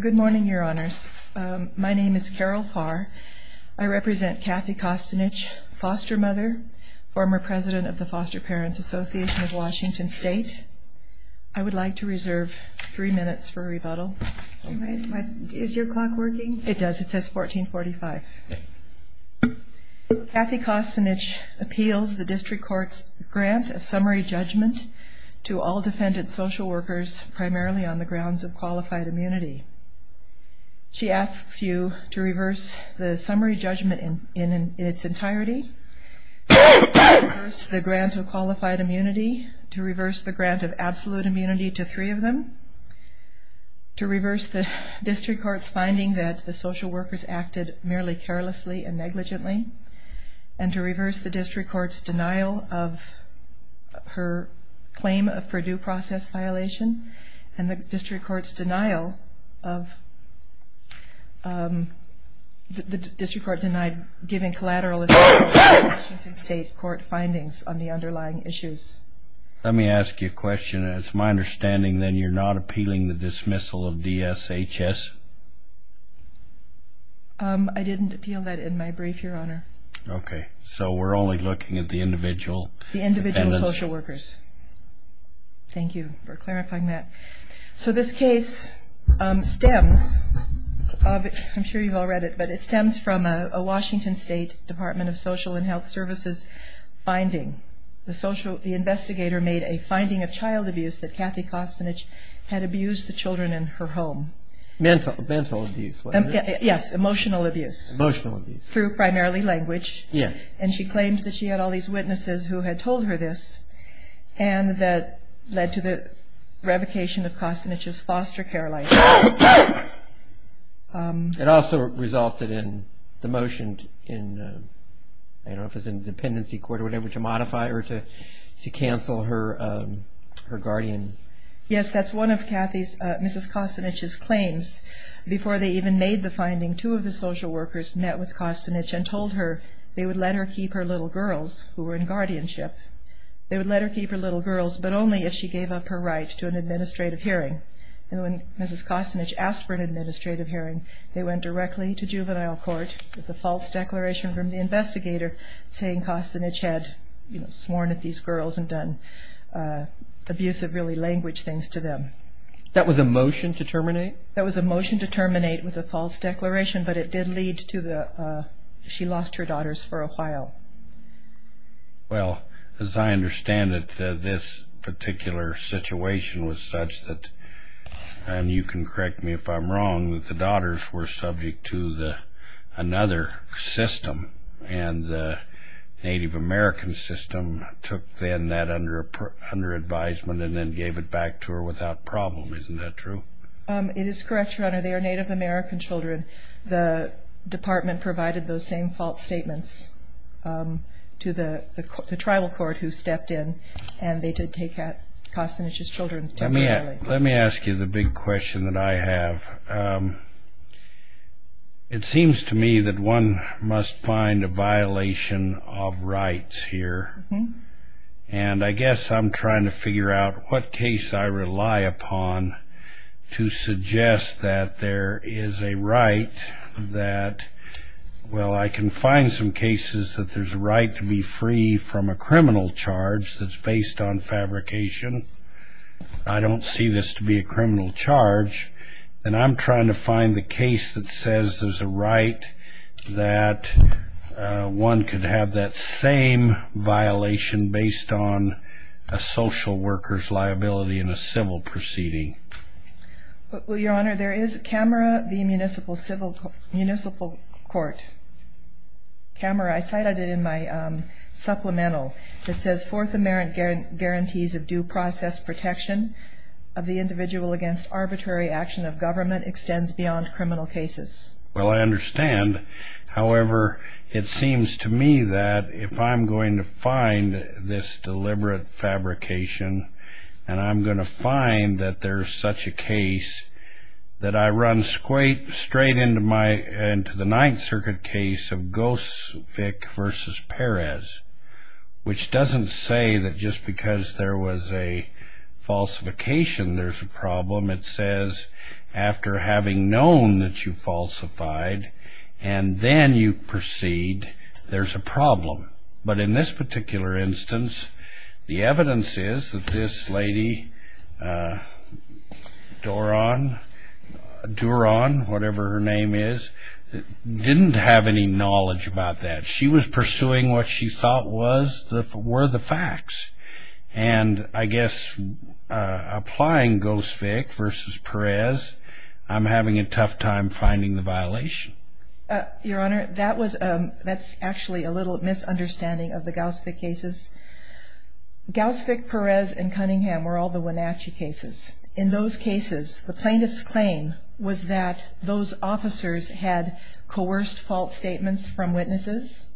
Good morning, Your Honors. My name is Carol Farr. I represent Kathy Costanich, foster mother, former president of the Foster Parents Association of Washington State. I would like to reserve three minutes for rebuttal. Is your clock working? It does. It says 1445. Kathy Costanich appeals the District Court's grant of summary judgment to all defendant social workers primarily on the grounds of qualified immunity. She asks you to reverse the summary judgment in its entirety, to reverse the grant of qualified immunity, to reverse the grant of absolute immunity to three of them, to reverse the District Court's finding that the social workers acted merely carelessly and negligently, and to reverse the District Court's failure process violation, and the District Court's denial of, the District Court denied giving collateral assessment to Washington State Court findings on the underlying issues. Let me ask you a question. It's my understanding then you're not appealing the dismissal of DSHS? I didn't appeal that in my brief, Your Honor. Okay, so we're only looking at the individual? The individual social workers. Thank you for clarifying that. So this case stems, I'm sure you've all read it, but it stems from a Washington State Department of Social and Health Services finding. The investigator made a finding of child abuse that Kathy Costanich had abused the children in her home. Mental abuse? Yes, emotional abuse. Emotional abuse. Through primarily language. Yes. And she claimed that she had all these witnesses who had told her this, and that led to the revocation of Costanich's foster care license. It also resulted in the motion in, I don't know if it was in the dependency court or whatever, to modify or to cancel her guardian. Yes, that's one of Kathy's, Mrs. Costanich's claims. Before they even made the finding, two of the social workers met with Costanich and told her they would let her keep her little girls who were in guardianship. They would let her keep her little girls, but only if she gave up her right to an administrative hearing. And when Mrs. Costanich asked for an administrative hearing, they went directly to juvenile court with a false declaration from the investigator saying Costanich had, you know, sworn at these girls and done abusive, really language things to them. That was a motion to terminate? That was a motion to terminate with a false declaration, but it did lead to the, she lost her daughters for a while. Well, as I understand it, this particular situation was such that, and you can correct me if I'm wrong, that the daughters were subject to another system, and the Native American system took then that under advisement and then gave it back to her without problem. Isn't that true? It is correct, Your Honor. They are Native American children. The department provided those same false statements to the tribal court who stepped in, and they did take out Costanich's children temporarily. Let me ask you the big question that I have. It seems to me that one must find a violation of rights here, and I guess I'm trying to figure out what case I rely upon to suggest that there is a right that, well, I can find some cases that there's a right to be free from a criminal charge that's based on fabrication. I don't see this to be a criminal charge, and I'm trying to find the case that says there's a right that one could have that same violation based on a social worker's liability in a civil proceeding. Well, Your Honor, there is a camera, the municipal court camera, I cited it in my supplemental. It says, Fourth Amendment guarantees of due process protection of the individual against arbitrary action of government extends beyond criminal cases. Well, I understand. However, it seems to me that if I'm going to find this deliberate fabrication, and I'm going to find that there's such a case that I run straight into the Ninth Circuit case of Gosvik v. Perez, which doesn't say that just because there was a falsification there's a problem. It says after having known that you falsified and then you proceed, there's a problem. But in this particular instance, the evidence is that this lady, Doron, whatever her name is, didn't have any knowledge about that. She was pursuing what she thought were the facts. And I guess applying Gosvik v. Perez, I'm having a tough time finding the violation. Your Honor, that's actually a little misunderstanding of the Gosvik cases. Gosvik, Perez, and Cunningham were all the Wenatchee cases. In those cases, the plaintiff's claim was that those officers had coerced false statements from witnesses.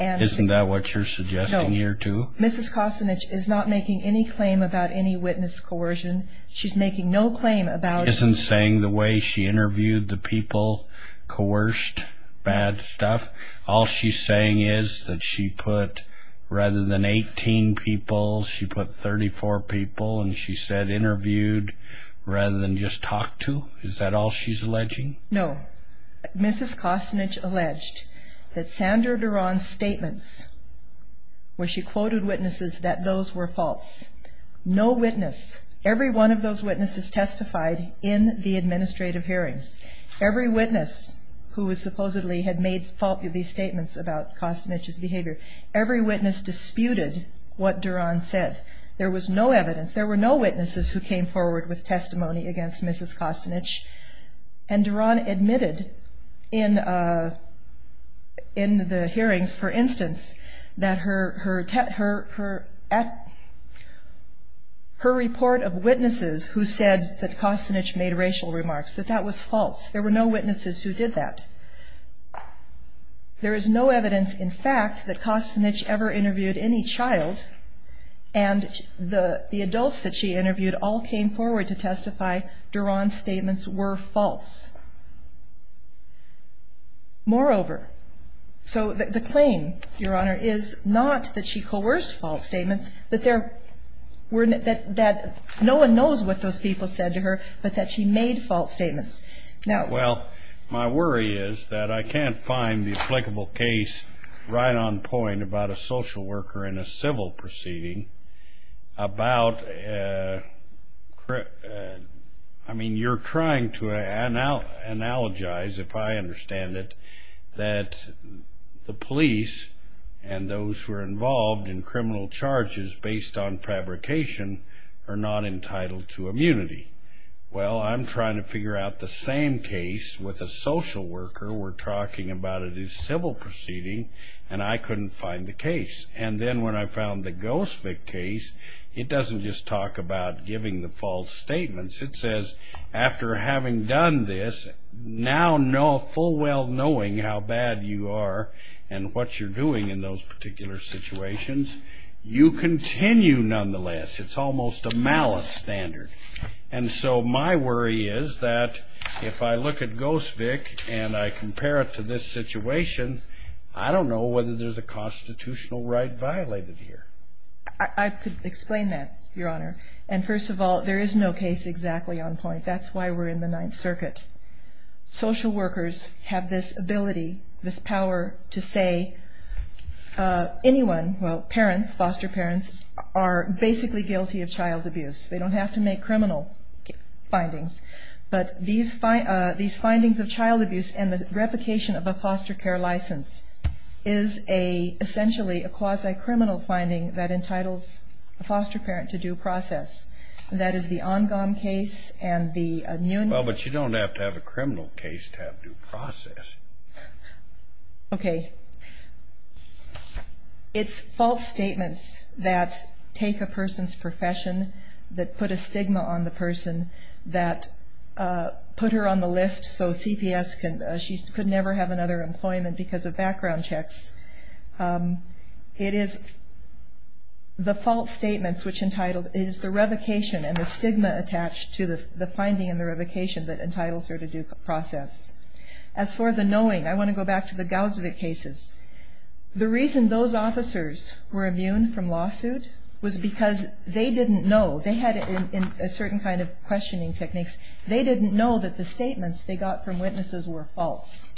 Isn't that what you're suggesting here, too? No. Mrs. Kosinich is not making any claim about any witness coercion. She's making no claim about any witness coercion. She isn't saying the way she interviewed the people coerced bad stuff? All she's saying is that she put, rather than 18 people, she put 34 people, and she said interviewed rather than just talked to? Is that all she's alleging? No. Mrs. Kosinich alleged that Sandra Doron's statements, where she quoted witnesses, that those were false. No witness, every one of those witnesses testified in the administrative hearings. Every witness who supposedly had made faulty statements about Kosinich's behavior, every witness disputed what Doron said. There was no evidence. There were no witnesses who Doron admitted in the hearings, for instance, that her report of witnesses who said that Kosinich made racial remarks, that that was false. There were no witnesses who did that. There is no evidence, in fact, that Kosinich ever interviewed any child, and the adults that she interviewed all came forward to testify Doron's statements were false. Moreover, so the claim, Your Honor, is not that she coerced false statements, but that no one knows what those people said to her, but that she made false statements. Now, well, my worry is that I can't find the applicable case right on point about a social worker. I mean, you're trying to analogize, if I understand it, that the police and those who are involved in criminal charges based on fabrication are not entitled to immunity. Well, I'm trying to figure out the same case with a social worker. We're talking about it as civil proceeding, and I couldn't find the case. And then when I found the Gosevich case, it doesn't just talk about giving the false statements. It says, after having done this, now full well knowing how bad you are and what you're doing in those particular situations, you continue nonetheless. It's almost a malice standard. And so my worry is that if I look at Gosevich and I compare it to this situation, I don't know whether there's a constitutional right violated here. I could explain that, Your Honor. And first of all, there is no case exactly on point. That's why we're in the Ninth Circuit. Social workers have this ability, this power to say anyone, well, parents, foster parents, are basically guilty of child abuse. They don't have to make criminal findings. But these findings of child abuse and the replication of a foster care license is essentially a quasi-criminal finding that entitles a foster parent to due process. That is the Ongam case and the Nguyen case. Well, but you don't have to have a criminal case to have due process. It's false statements that take a person's profession, that put a stigma on the person, that put her on the list so CPS, she could never have another employment because of background checks. It is the false statements which entitled, it is the revocation and the stigma attached to the finding and the revocation that entitles her to due process. As for the knowing, I want to go back to the Gosevich cases. The reason those officers were immune from lawsuit was because they didn't know. They had a certain kind of questioning techniques. They didn't know that the statements they got from witnesses were false.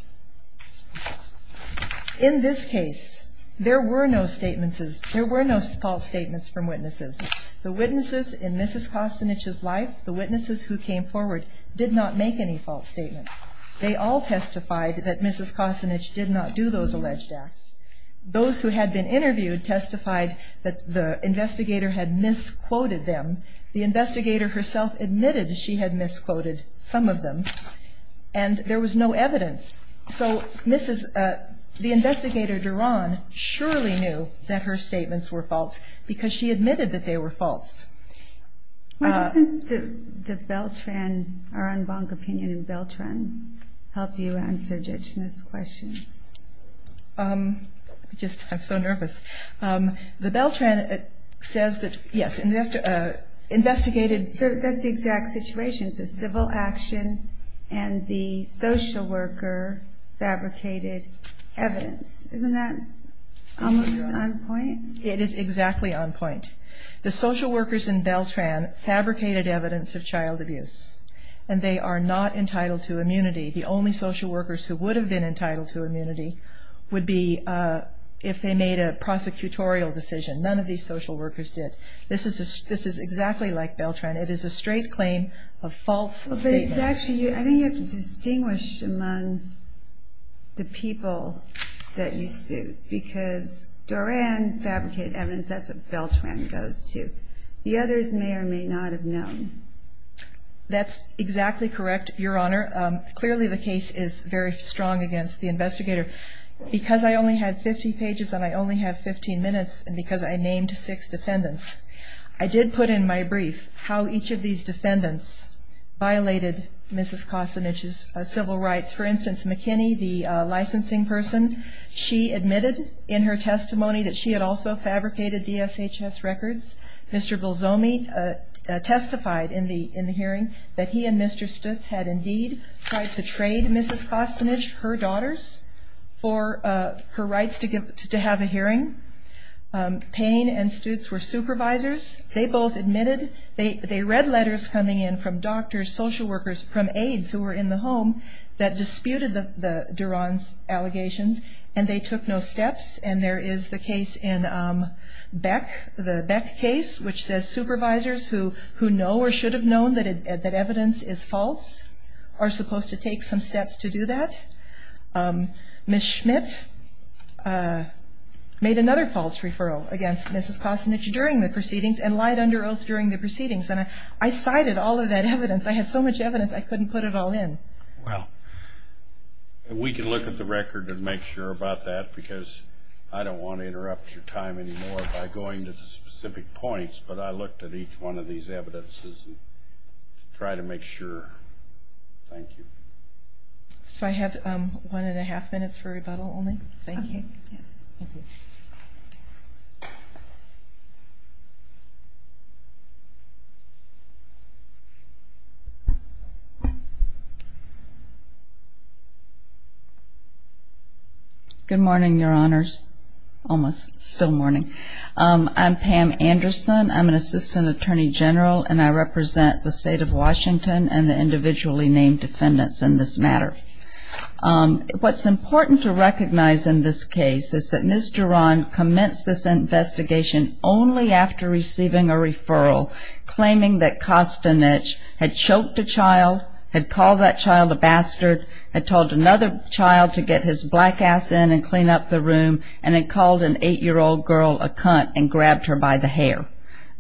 In this case, there were no false statements from witnesses. The witnesses in Mrs. Kosinich's life, the witnesses who came forward, did not make any false statements. They all testified that Mrs. Kosinich did not do those alleged acts. Those who had been interviewed testified that the investigator had misquoted them. The investigator herself admitted she had misquoted some of them and there was no evidence. So the investigator, Duran, surely knew that her statements were false because she admitted that they were false. Why doesn't the Beltran, our en banc opinion in Beltran, help you answer Jitina's questions? I'm just so nervous. The Beltran says that, yes, investigated... That's the exact situation. It's a civil action and the social worker fabricated evidence. Isn't that almost on point? It is exactly on point. The social workers in Beltran fabricated evidence of child abuse and they are not entitled to immunity. The only social workers who would have been entitled to immunity would be if they made a prosecutorial decision. None of these social workers did. This is exactly like Beltran. It is a straight claim of false statements. I think you have to distinguish among the people that you suit because Duran fabricated evidence. That's what Beltran goes to. The others may or may not have known. That's exactly correct, Your Honor. Clearly the case is very strong against the investigator. Because I only had 50 pages and I only had 15 minutes and because I named six defendants, I did put in my brief how each of these defendants violated Mrs. Kosinich's civil rights. For those who fabricated DSHS records, Mr. Bilzomi testified in the hearing that he and Mr. Stutz had indeed tried to trade Mrs. Kosinich, her daughters, for her rights to have a hearing. Payne and Stutz were supervisors. They both admitted. They read letters coming in from doctors, social workers, from aides who were in the home that disputed Duran's allegations and they took no steps. There is the case in Beck, the Beck case, which says supervisors who know or should have known that evidence is false are supposed to take some steps to do that. Ms. Schmidt made another false referral against Mrs. Kosinich during the proceedings and lied under oath during the proceedings. I cited all of that evidence. I had so much evidence I couldn't put it all in. Well, we can look at the record and make sure about that because I don't want to interrupt your time anymore by going to the specific points, but I looked at each one of these evidences to try to make sure. Thank you. So I have one and a half minutes for rebuttal only. Thank you. Good morning, your honors. Almost, still morning. I'm Pam Anderson. I'm an assistant attorney general and I represent the state of Washington and the individually named defendants in this matter. What's important to recognize in this case is that Ms. Duran commenced this investigation only after receiving a referral claiming that Kosinich had choked a child, had called that child a bastard, had told another child to get his black ass in and clean up the room, and had called an eight-year-old girl a cunt and grabbed her by the hair.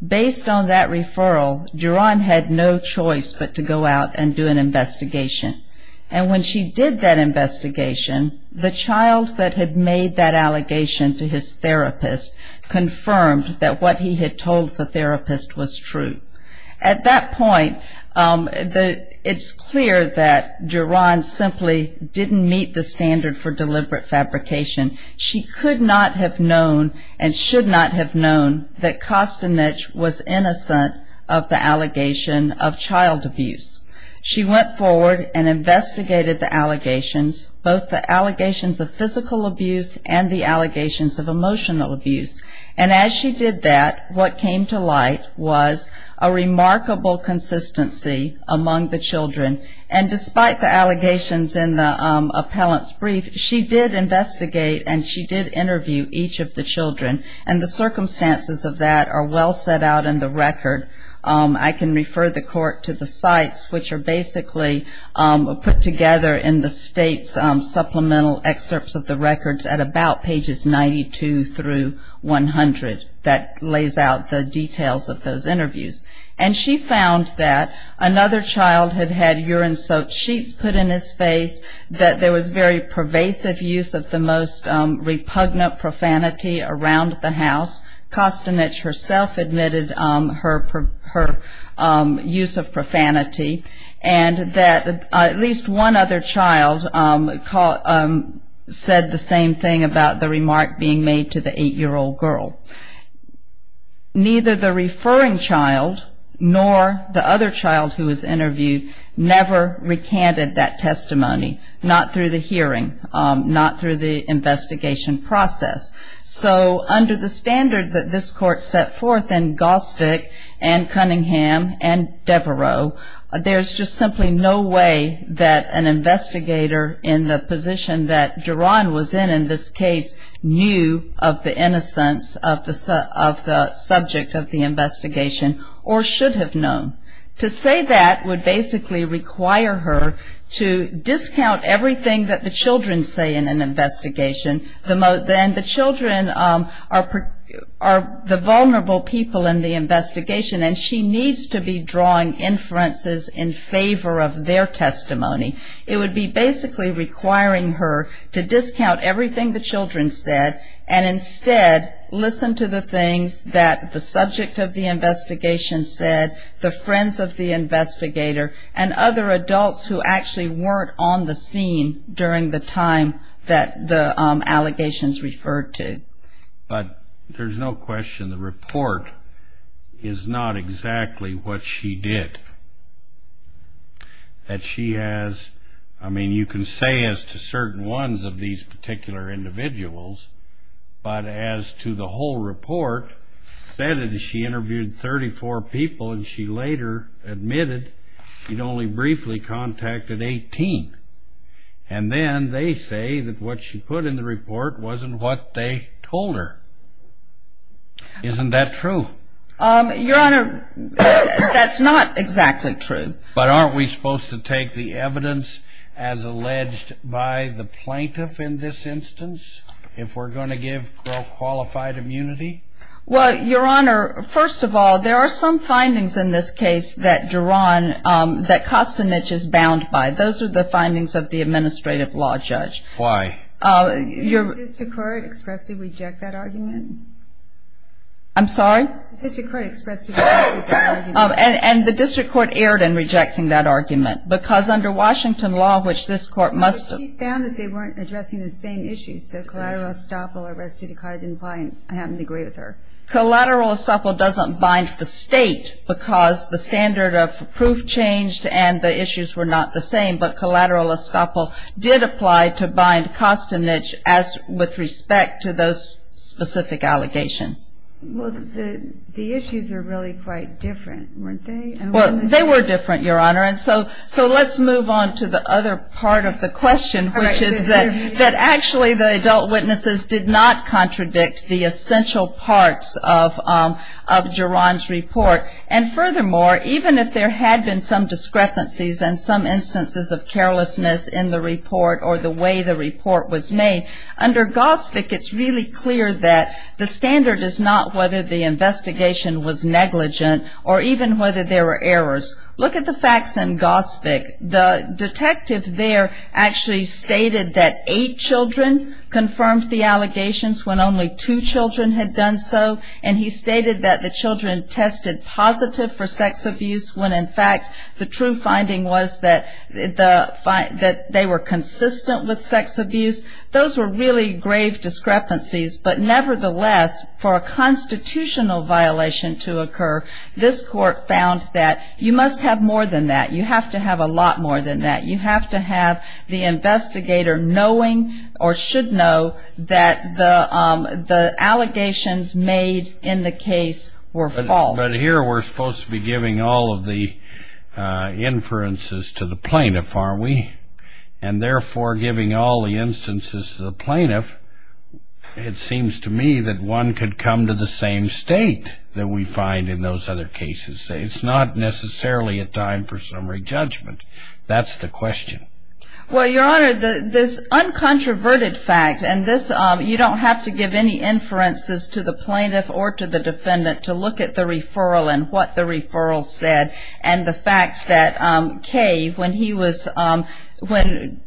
Based on that referral, Duran had no choice but to go out and do an investigation. And when she did that investigation, the child that had made that allegation to his therapist confirmed that what he had told the therapist was true. At that point, it's clear that Duran simply didn't meet the standard for deliberate fabrication. She could not have known and should not have known that Kosinich was innocent of the allegation of child abuse. She went forward and investigated the allegations, both the allegations of physical abuse and the allegations of emotional abuse. And as she did that, what came to light was a remarkable consistency among the children. And despite the allegations in the appellant's brief, she did investigate and she did interview each of the children. And the circumstances of that are well set out in the record. I can refer the court to the sites, which are basically put together in the state's supplemental excerpts of the records at about pages 92 through 100 that lays out the details of those interviews. And she found that another child had had urine-soaked sheets put in his face, that there was very pervasive use of the most repugnant profanity around the house. Kosinich herself admitted her use of profanity. And that at least one other child, the mother said the same thing about the remark being made to the eight-year-old girl. Neither the referring child nor the other child who was interviewed never recanted that testimony, not through the hearing, not through the investigation process. So under the standard that this court set forth in Gosvick and Cunningham and Devereaux, there's just simply no way that an investigator in the position that Duran was in, in this case, knew of the innocence of the subject of the investigation or should have known. To say that would basically require her to discount everything that the children say in an investigation. And the children are the vulnerable people in the investigation, and she needs to be drawing inferences in basically requiring her to discount everything the children said and instead listen to the things that the subject of the investigation said, the friends of the investigator, and other adults who actually weren't on the scene during the time that the allegations referred to. But there's no question the report is not exactly what she did. That she has, I mean you can say as to certain ones of these particular individuals, but as to the whole report, said that she interviewed 34 people and she later admitted she'd only briefly contacted 18. And then they say that what she put in the report wasn't what they told her. Isn't that true? Your Honor, that's not exactly true. But aren't we supposed to take the evidence as alleged by the plaintiff in this instance if we're going to give her qualified immunity? Well, Your Honor, first of all, there are some findings in this case that Duran, that Kostinich is bound by. Those are the findings of the administrative law judge. Why? Did the district court expressly reject that argument? I'm sorry? Did the district court expressly reject that argument? And the district court erred in rejecting that argument. Because under Washington law, which this court must... But she found that they weren't addressing the same issues. So collateral estoppel or restitute clause didn't apply and I happen to agree with her. Collateral estoppel doesn't bind the state because the standard of proof changed and the issues were not the same. But collateral estoppel did apply to bind Kostinich as with respect to those specific allegations. Well, the issues were really quite different, weren't they? Well, they were different, Your Honor. So let's move on to the other part of the question, which is that actually the adult witnesses did not contradict the essential parts of Duran's report. And furthermore, even if there had been some discrepancies and some instances of carelessness in the report or the way the report was made, under GOSVIC it's really clear that the standard is not whether the investigation was negligent or even whether there were errors. Look at the facts in GOSVIC. The detective there actually stated that eight children confirmed the allegations when only two children had done so. And he stated that the children tested positive for sex abuse when, in fact, the true finding was that they were consistent with sex abuse. Those were really grave discrepancies. But nevertheless, for a constitutional violation to occur, this Court found that you must have more than that. You have to have a lot more than that. You have to have the investigator knowing or should know that the allegations made in the case were false. But here we're supposed to be giving all of the inferences to the plaintiff, aren't we? And therefore, giving all the instances to the plaintiff, it seems to me that one could come to the same state that we find in those other cases. It's not necessarily a time for summary judgment. That's the question. Well, Your Honor, this uncontroverted fact, and this, you don't have to give any inferences to the plaintiff or to the defendant to look at the referral and what the referral said and the fact that Kay, when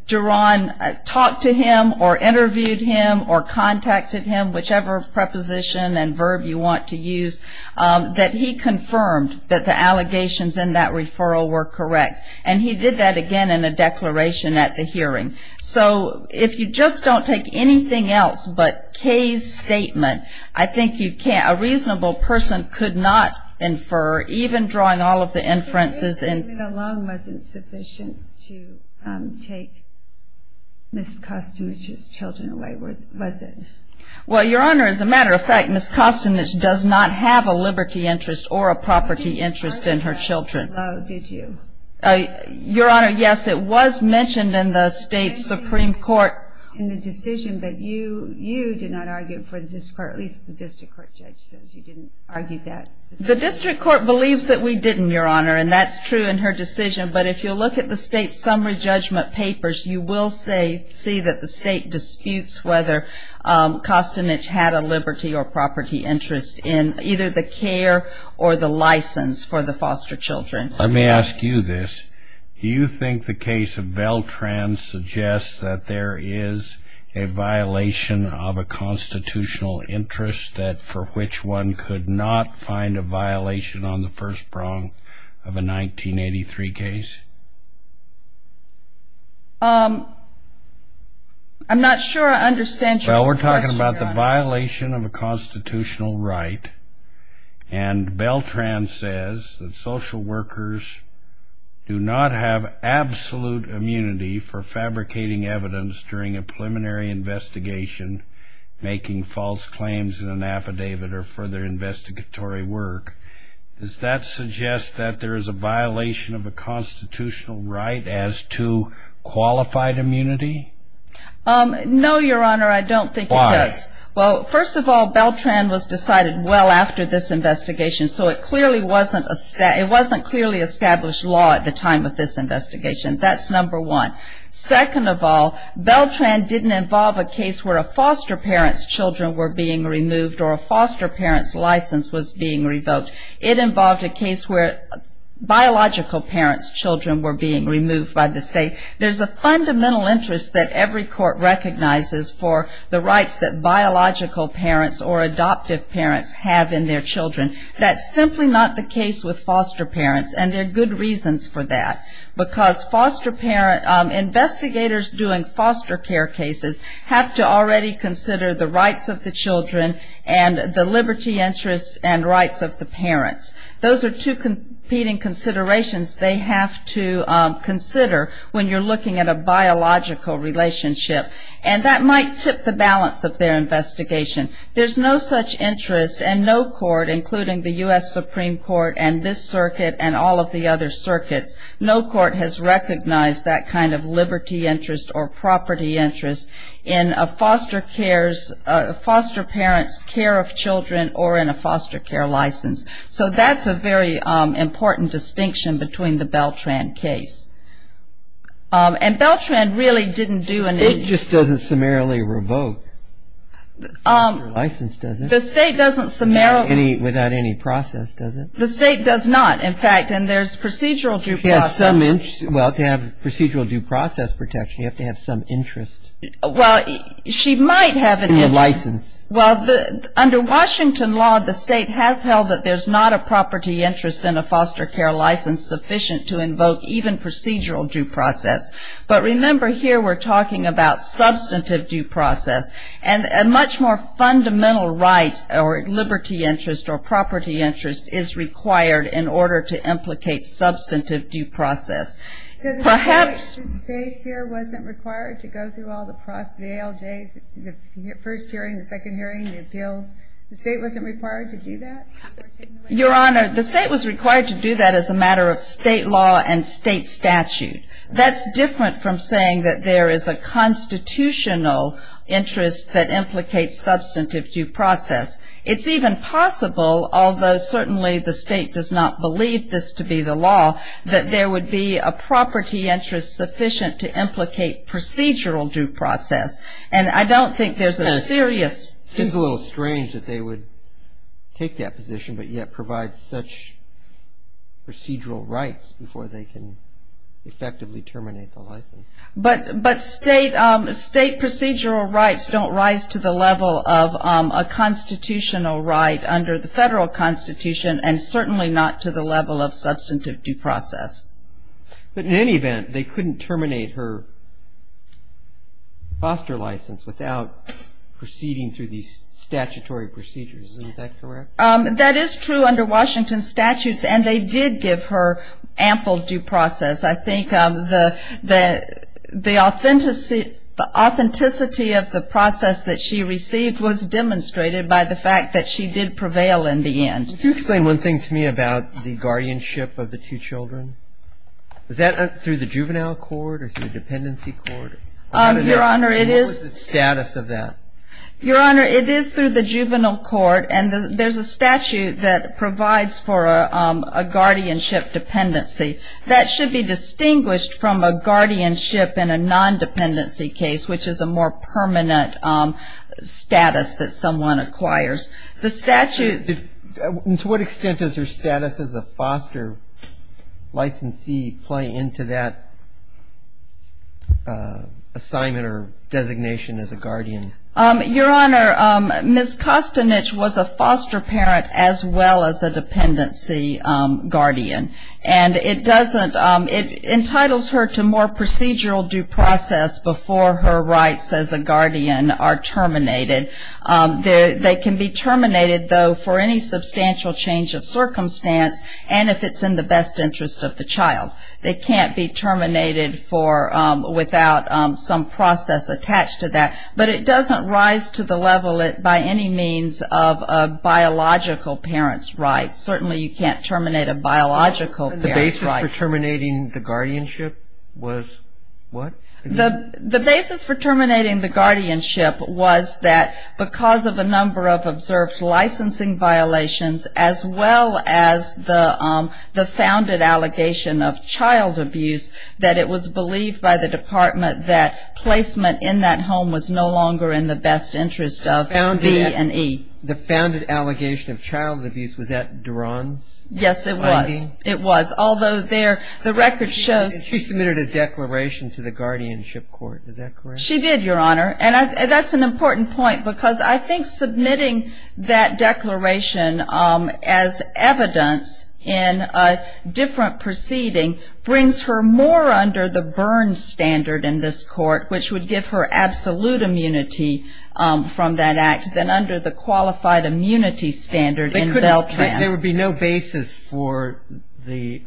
Duron talked to him or interviewed him or contacted him, whichever preposition and verb you want to use, that he confirmed that the allegations in that referral were correct. And he did that, again, in a declaration at the hearing. So if you just don't take anything else but Kay's statement, I think you can't, a reasonable person could not infer, even drawing all of the inferences and... Kay's statement alone wasn't sufficient to take Ms. Kostinich's children away, was it? Well, Your Honor, as a matter of fact, Ms. Kostinich does not have a liberty interest or a property interest in her children. You didn't write that down, did you? Your Honor, yes, it was mentioned in the state's Supreme Court. I didn't see it in the decision, but you did not argue it for the district court, at least the district court judge says you didn't argue that. The district court believes that we didn't, Your Honor, and that's true in her decision, but if you look at the state's summary judgment papers, you will see that the state disputes whether Kostinich had a liberty or property interest in either the care or the license for the foster children. Let me ask you this, do you think the case of Beltran suggests that there is a violation of a constitutional interest that for which one could not find a violation on the first prong of a 1983 case? I'm not sure I understand your question, Your Honor. Well, we're talking about the violation of a constitutional right, and Beltran says that workers do not have absolute immunity for fabricating evidence during a preliminary investigation, making false claims in an affidavit, or for their investigatory work. Does that suggest that there is a violation of a constitutional right as to qualified immunity? No, Your Honor, I don't think it does. Why? Well, first of all, Beltran was decided well after this investigation, so it clearly wasn't established law at the time of this investigation, that's number one. Second of all, Beltran didn't involve a case where a foster parent's children were being removed or a foster parent's license was being revoked. It involved a case where biological parents' children were being removed by the state. There's a fundamental interest that every court recognizes for the rights that biological parents or adoptive parents have in their children. That's simply not the case with foster parents, and there are good reasons for that. Because investigators doing foster care cases have to already consider the rights of the children and the liberty, interest, and rights of the parents. Those are two competing considerations they have to consider when you're looking at a biological relationship, and that might tip the balance of their investigation. There's no such interest, and no court, including the U.S. Supreme Court, and this circuit, and all of the other circuits, no court has recognized that kind of liberty interest or property interest in a foster parent's care of children or in a foster care license. So that's a very important distinction between the Beltran case. And Beltran really didn't do any... The state just doesn't summarily revoke the license, does it? The state doesn't summarily... Without any process, does it? The state does not, in fact, and there's procedural due process. She has some interest. Well, to have procedural due process protection, you have to have some interest. Well, she might have an interest. In the license. Well, under Washington law, the state has held that there's not a property interest in a foster care license sufficient to invoke even procedural due process. But remember, here we're talking about substantive due process, and a much more fundamental right or liberty interest or property interest is required in order to implicate substantive due process. Perhaps... So the state here wasn't required to go through all the ALJ, the first hearing, the second hearing, the appeals? The state wasn't required to do that? Your Honor, the state was required to do that as a matter of state law and state statute. That's different from saying that there is a constitutional interest that implicates substantive due process. It's even possible, although certainly the state does not believe this to be the law, that there would be a property interest sufficient to implicate procedural due process. And I don't think there's a serious... It seems a little strange that they would take that position, but yet provide such procedural rights before they can effectively terminate the license. But state procedural rights don't rise to the level of a constitutional right under the federal constitution, and certainly not to the level of substantive due process. But in any event, they couldn't terminate her foster license without proceeding through these statutory procedures. Isn't that correct? That is true under Washington statutes, and they did give her ample due process. I think the authenticity of the process that she received was demonstrated by the fact that she did prevail in the end. Could you explain one thing to me about the guardianship of the two children? Is that through the juvenile court or through the dependency court? Your Honor, it is... What was the status of that? Your Honor, it is through the juvenile court. And there's a statute that provides for a guardianship dependency. That should be distinguished from a guardianship in a non-dependency case, which is a more permanent status that someone acquires. The statute... And to what extent does her status as a foster licensee play into that assignment or designation as a guardian? Your Honor, Ms. Kostinich was a foster parent as well as a dependency guardian. And it doesn't... It entitles her to more procedural due process before her rights as a guardian are terminated. They can be terminated, though, for any substantial change of circumstance and if it's in the best interest of the child. They can't be terminated without some process attached to that. But it doesn't rise to the level, by any means, of a biological parent's rights. Certainly you can't terminate a biological parent's rights. And the basis for terminating the guardianship was what? The basis for terminating the guardianship was that because of a number of observed licensing violations, as well as the founded allegation of child abuse, that it was believed by the department that placement in that home was no longer in the best interest of V and E. The founded allegation of child abuse, was that Duran's finding? Yes, it was. It was. Although there, the record shows... She submitted a declaration to the guardianship court, is that correct? She did, Your Honor. And that's an important point, because I think submitting that declaration as evidence in a different proceeding brings her more under the Byrne standard in this court, which would give her absolute immunity from that act, than under the qualified immunity standard in Veltran. There would be no basis for the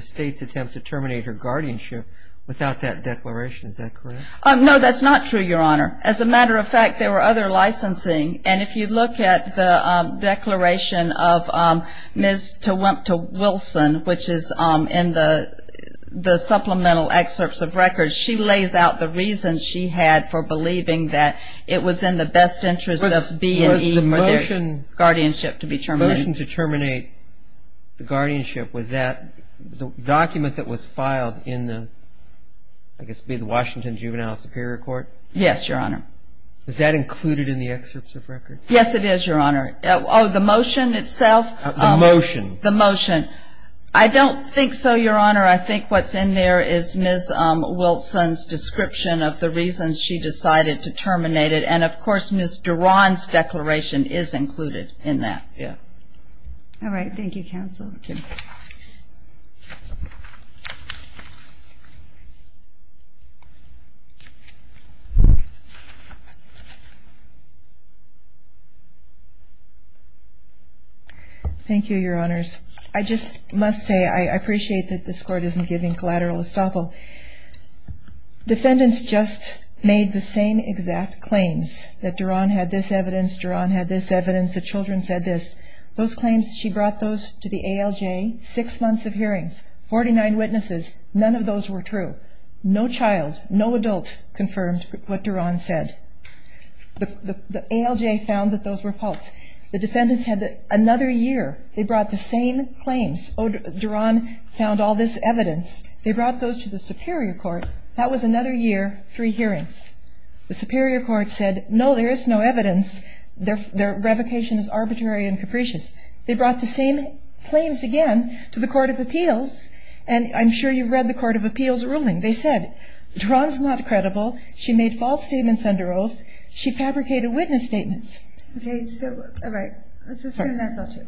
state's attempt to terminate her guardianship without that declaration. Is that correct? No, that's not true, Your Honor. As a matter of fact, there were other licensing, and if you look at the declaration of Ms. Tewumpta Wilson, which is in the supplemental excerpts of records, she lays out the reason she had for believing that it was in the best interest of V and E for their guardianship to be terminated. The guardianship, was that the document that was filed in the, I guess it would be the Washington Juvenile Superior Court? Yes, Your Honor. Is that included in the excerpts of records? Yes, it is, Your Honor. Oh, the motion itself? The motion. The motion. I don't think so, Your Honor. I think what's in there is Ms. Wilson's description of the reasons she decided to terminate it, and of course, Ms. Duran's declaration is included in that. Yeah. All right. Thank you, counsel. Thank you, Your Honors. I just must say, I appreciate that this Court isn't giving collateral estoppel. Defendants just made the same exact claims, that Duran had this evidence, Duran had this evidence, that children said this. Those claims, she brought those to the ALJ, six months of hearings, 49 witnesses, none of those were true. No child, no adult confirmed what Duran said. The ALJ found that those were false. The defendants had another year, they brought the same claims. Duran found all this evidence. They brought those to the Superior Court. That was another year, three hearings. The Superior Court said, no, there is no evidence. Their revocation is arbitrary and capricious. They brought the same claims again to the Court of Appeals, and I'm sure you've read the Court of Appeals ruling. They said, Duran's not credible. She made false statements under oath. She fabricated witness statements. Okay, so, all right, let's assume that's all true.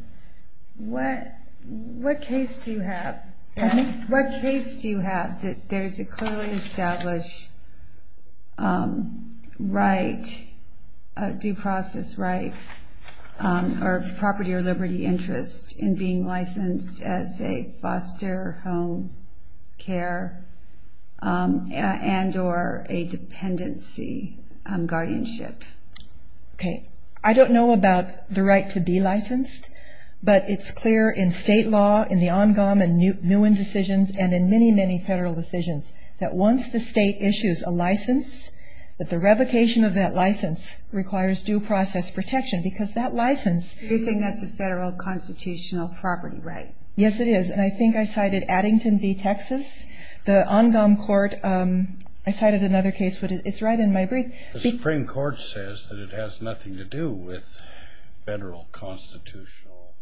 What case do you have? What case do you have that there's a clearly established right, a due process right, or property or liberty interest in being licensed as a foster home care and or a dependency guardianship? Okay, I don't know about the right to be licensed, but it's clear in state law, in the Ongom and Nguyen decisions, and in many, many federal decisions, that once the state issues a license, that the revocation of that license requires due process protection, because that license... You're saying that's a federal constitutional property right. Yes, it is, and I think I cited Addington v. Texas. The Ongom court, I cited another case, but it's right in my brief. The Supreme Court says that it has nothing to do with federal constitutional...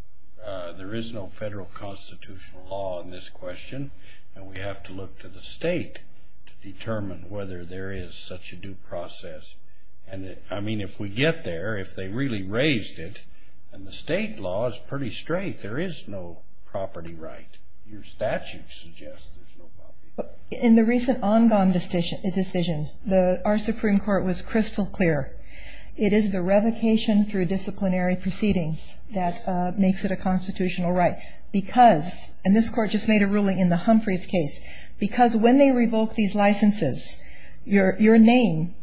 There is no federal constitutional law in this question, and we have to look to the state to determine whether there is such a due process. And, I mean, if we get there, if they really raised it, and the state law is pretty straight, there is no property right. Your statute suggests there's no property right. In the recent Ongom decision, our Supreme Court was crystal clear. It is the revocation through disciplinary proceedings that makes it a constitutional right, because, and this court just made a ruling in the Humphreys case, because when they revoke these licenses, your name,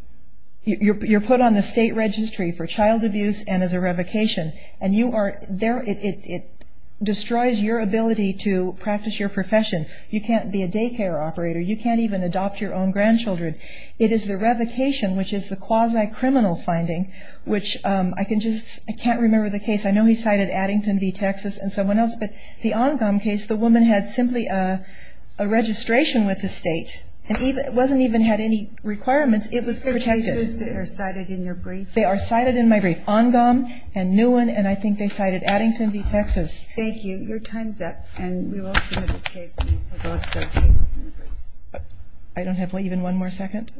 you're put on the state registry for child abuse and as a revocation, and it destroys your ability to practice your profession. You can't be a daycare operator. You can't even adopt your own grandchildren. It is the revocation, which is the quasi-criminal finding, which I can just, I can't remember the case. I know he cited Addington v. Texas and someone else, but the Ongom case, the woman had simply a registration with the state. It wasn't even had any requirements. It was protected. Are there cases that are cited in your brief? They are cited in my brief. Ongom and Newen, and I think they cited Addington v. Texas. Thank you. Your time's up, and we will submit this case. I don't have even one more second?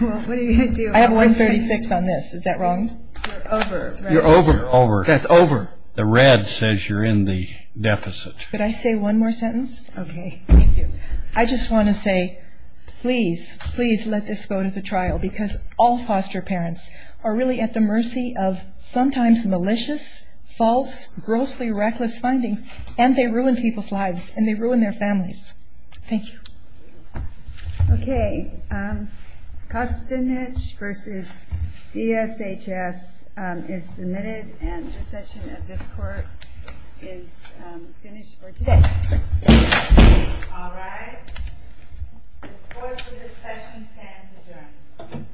Well, what are you going to do? I have 136 on this. Is that wrong? You're over. You're over. That's over. The red says you're in the deficit. Could I say one more sentence? Okay. Thank you. I just want to say, please, please let this go to the trial, because all foster parents are really at the mercy of sometimes malicious, false, grossly reckless findings, and they ruin people's lives, and they ruin their families. Thank you. Okay. Kostinich v. D.S.H.S. is submitted, and this session of this court is finished for today. All right. This court's recessions stand adjourned.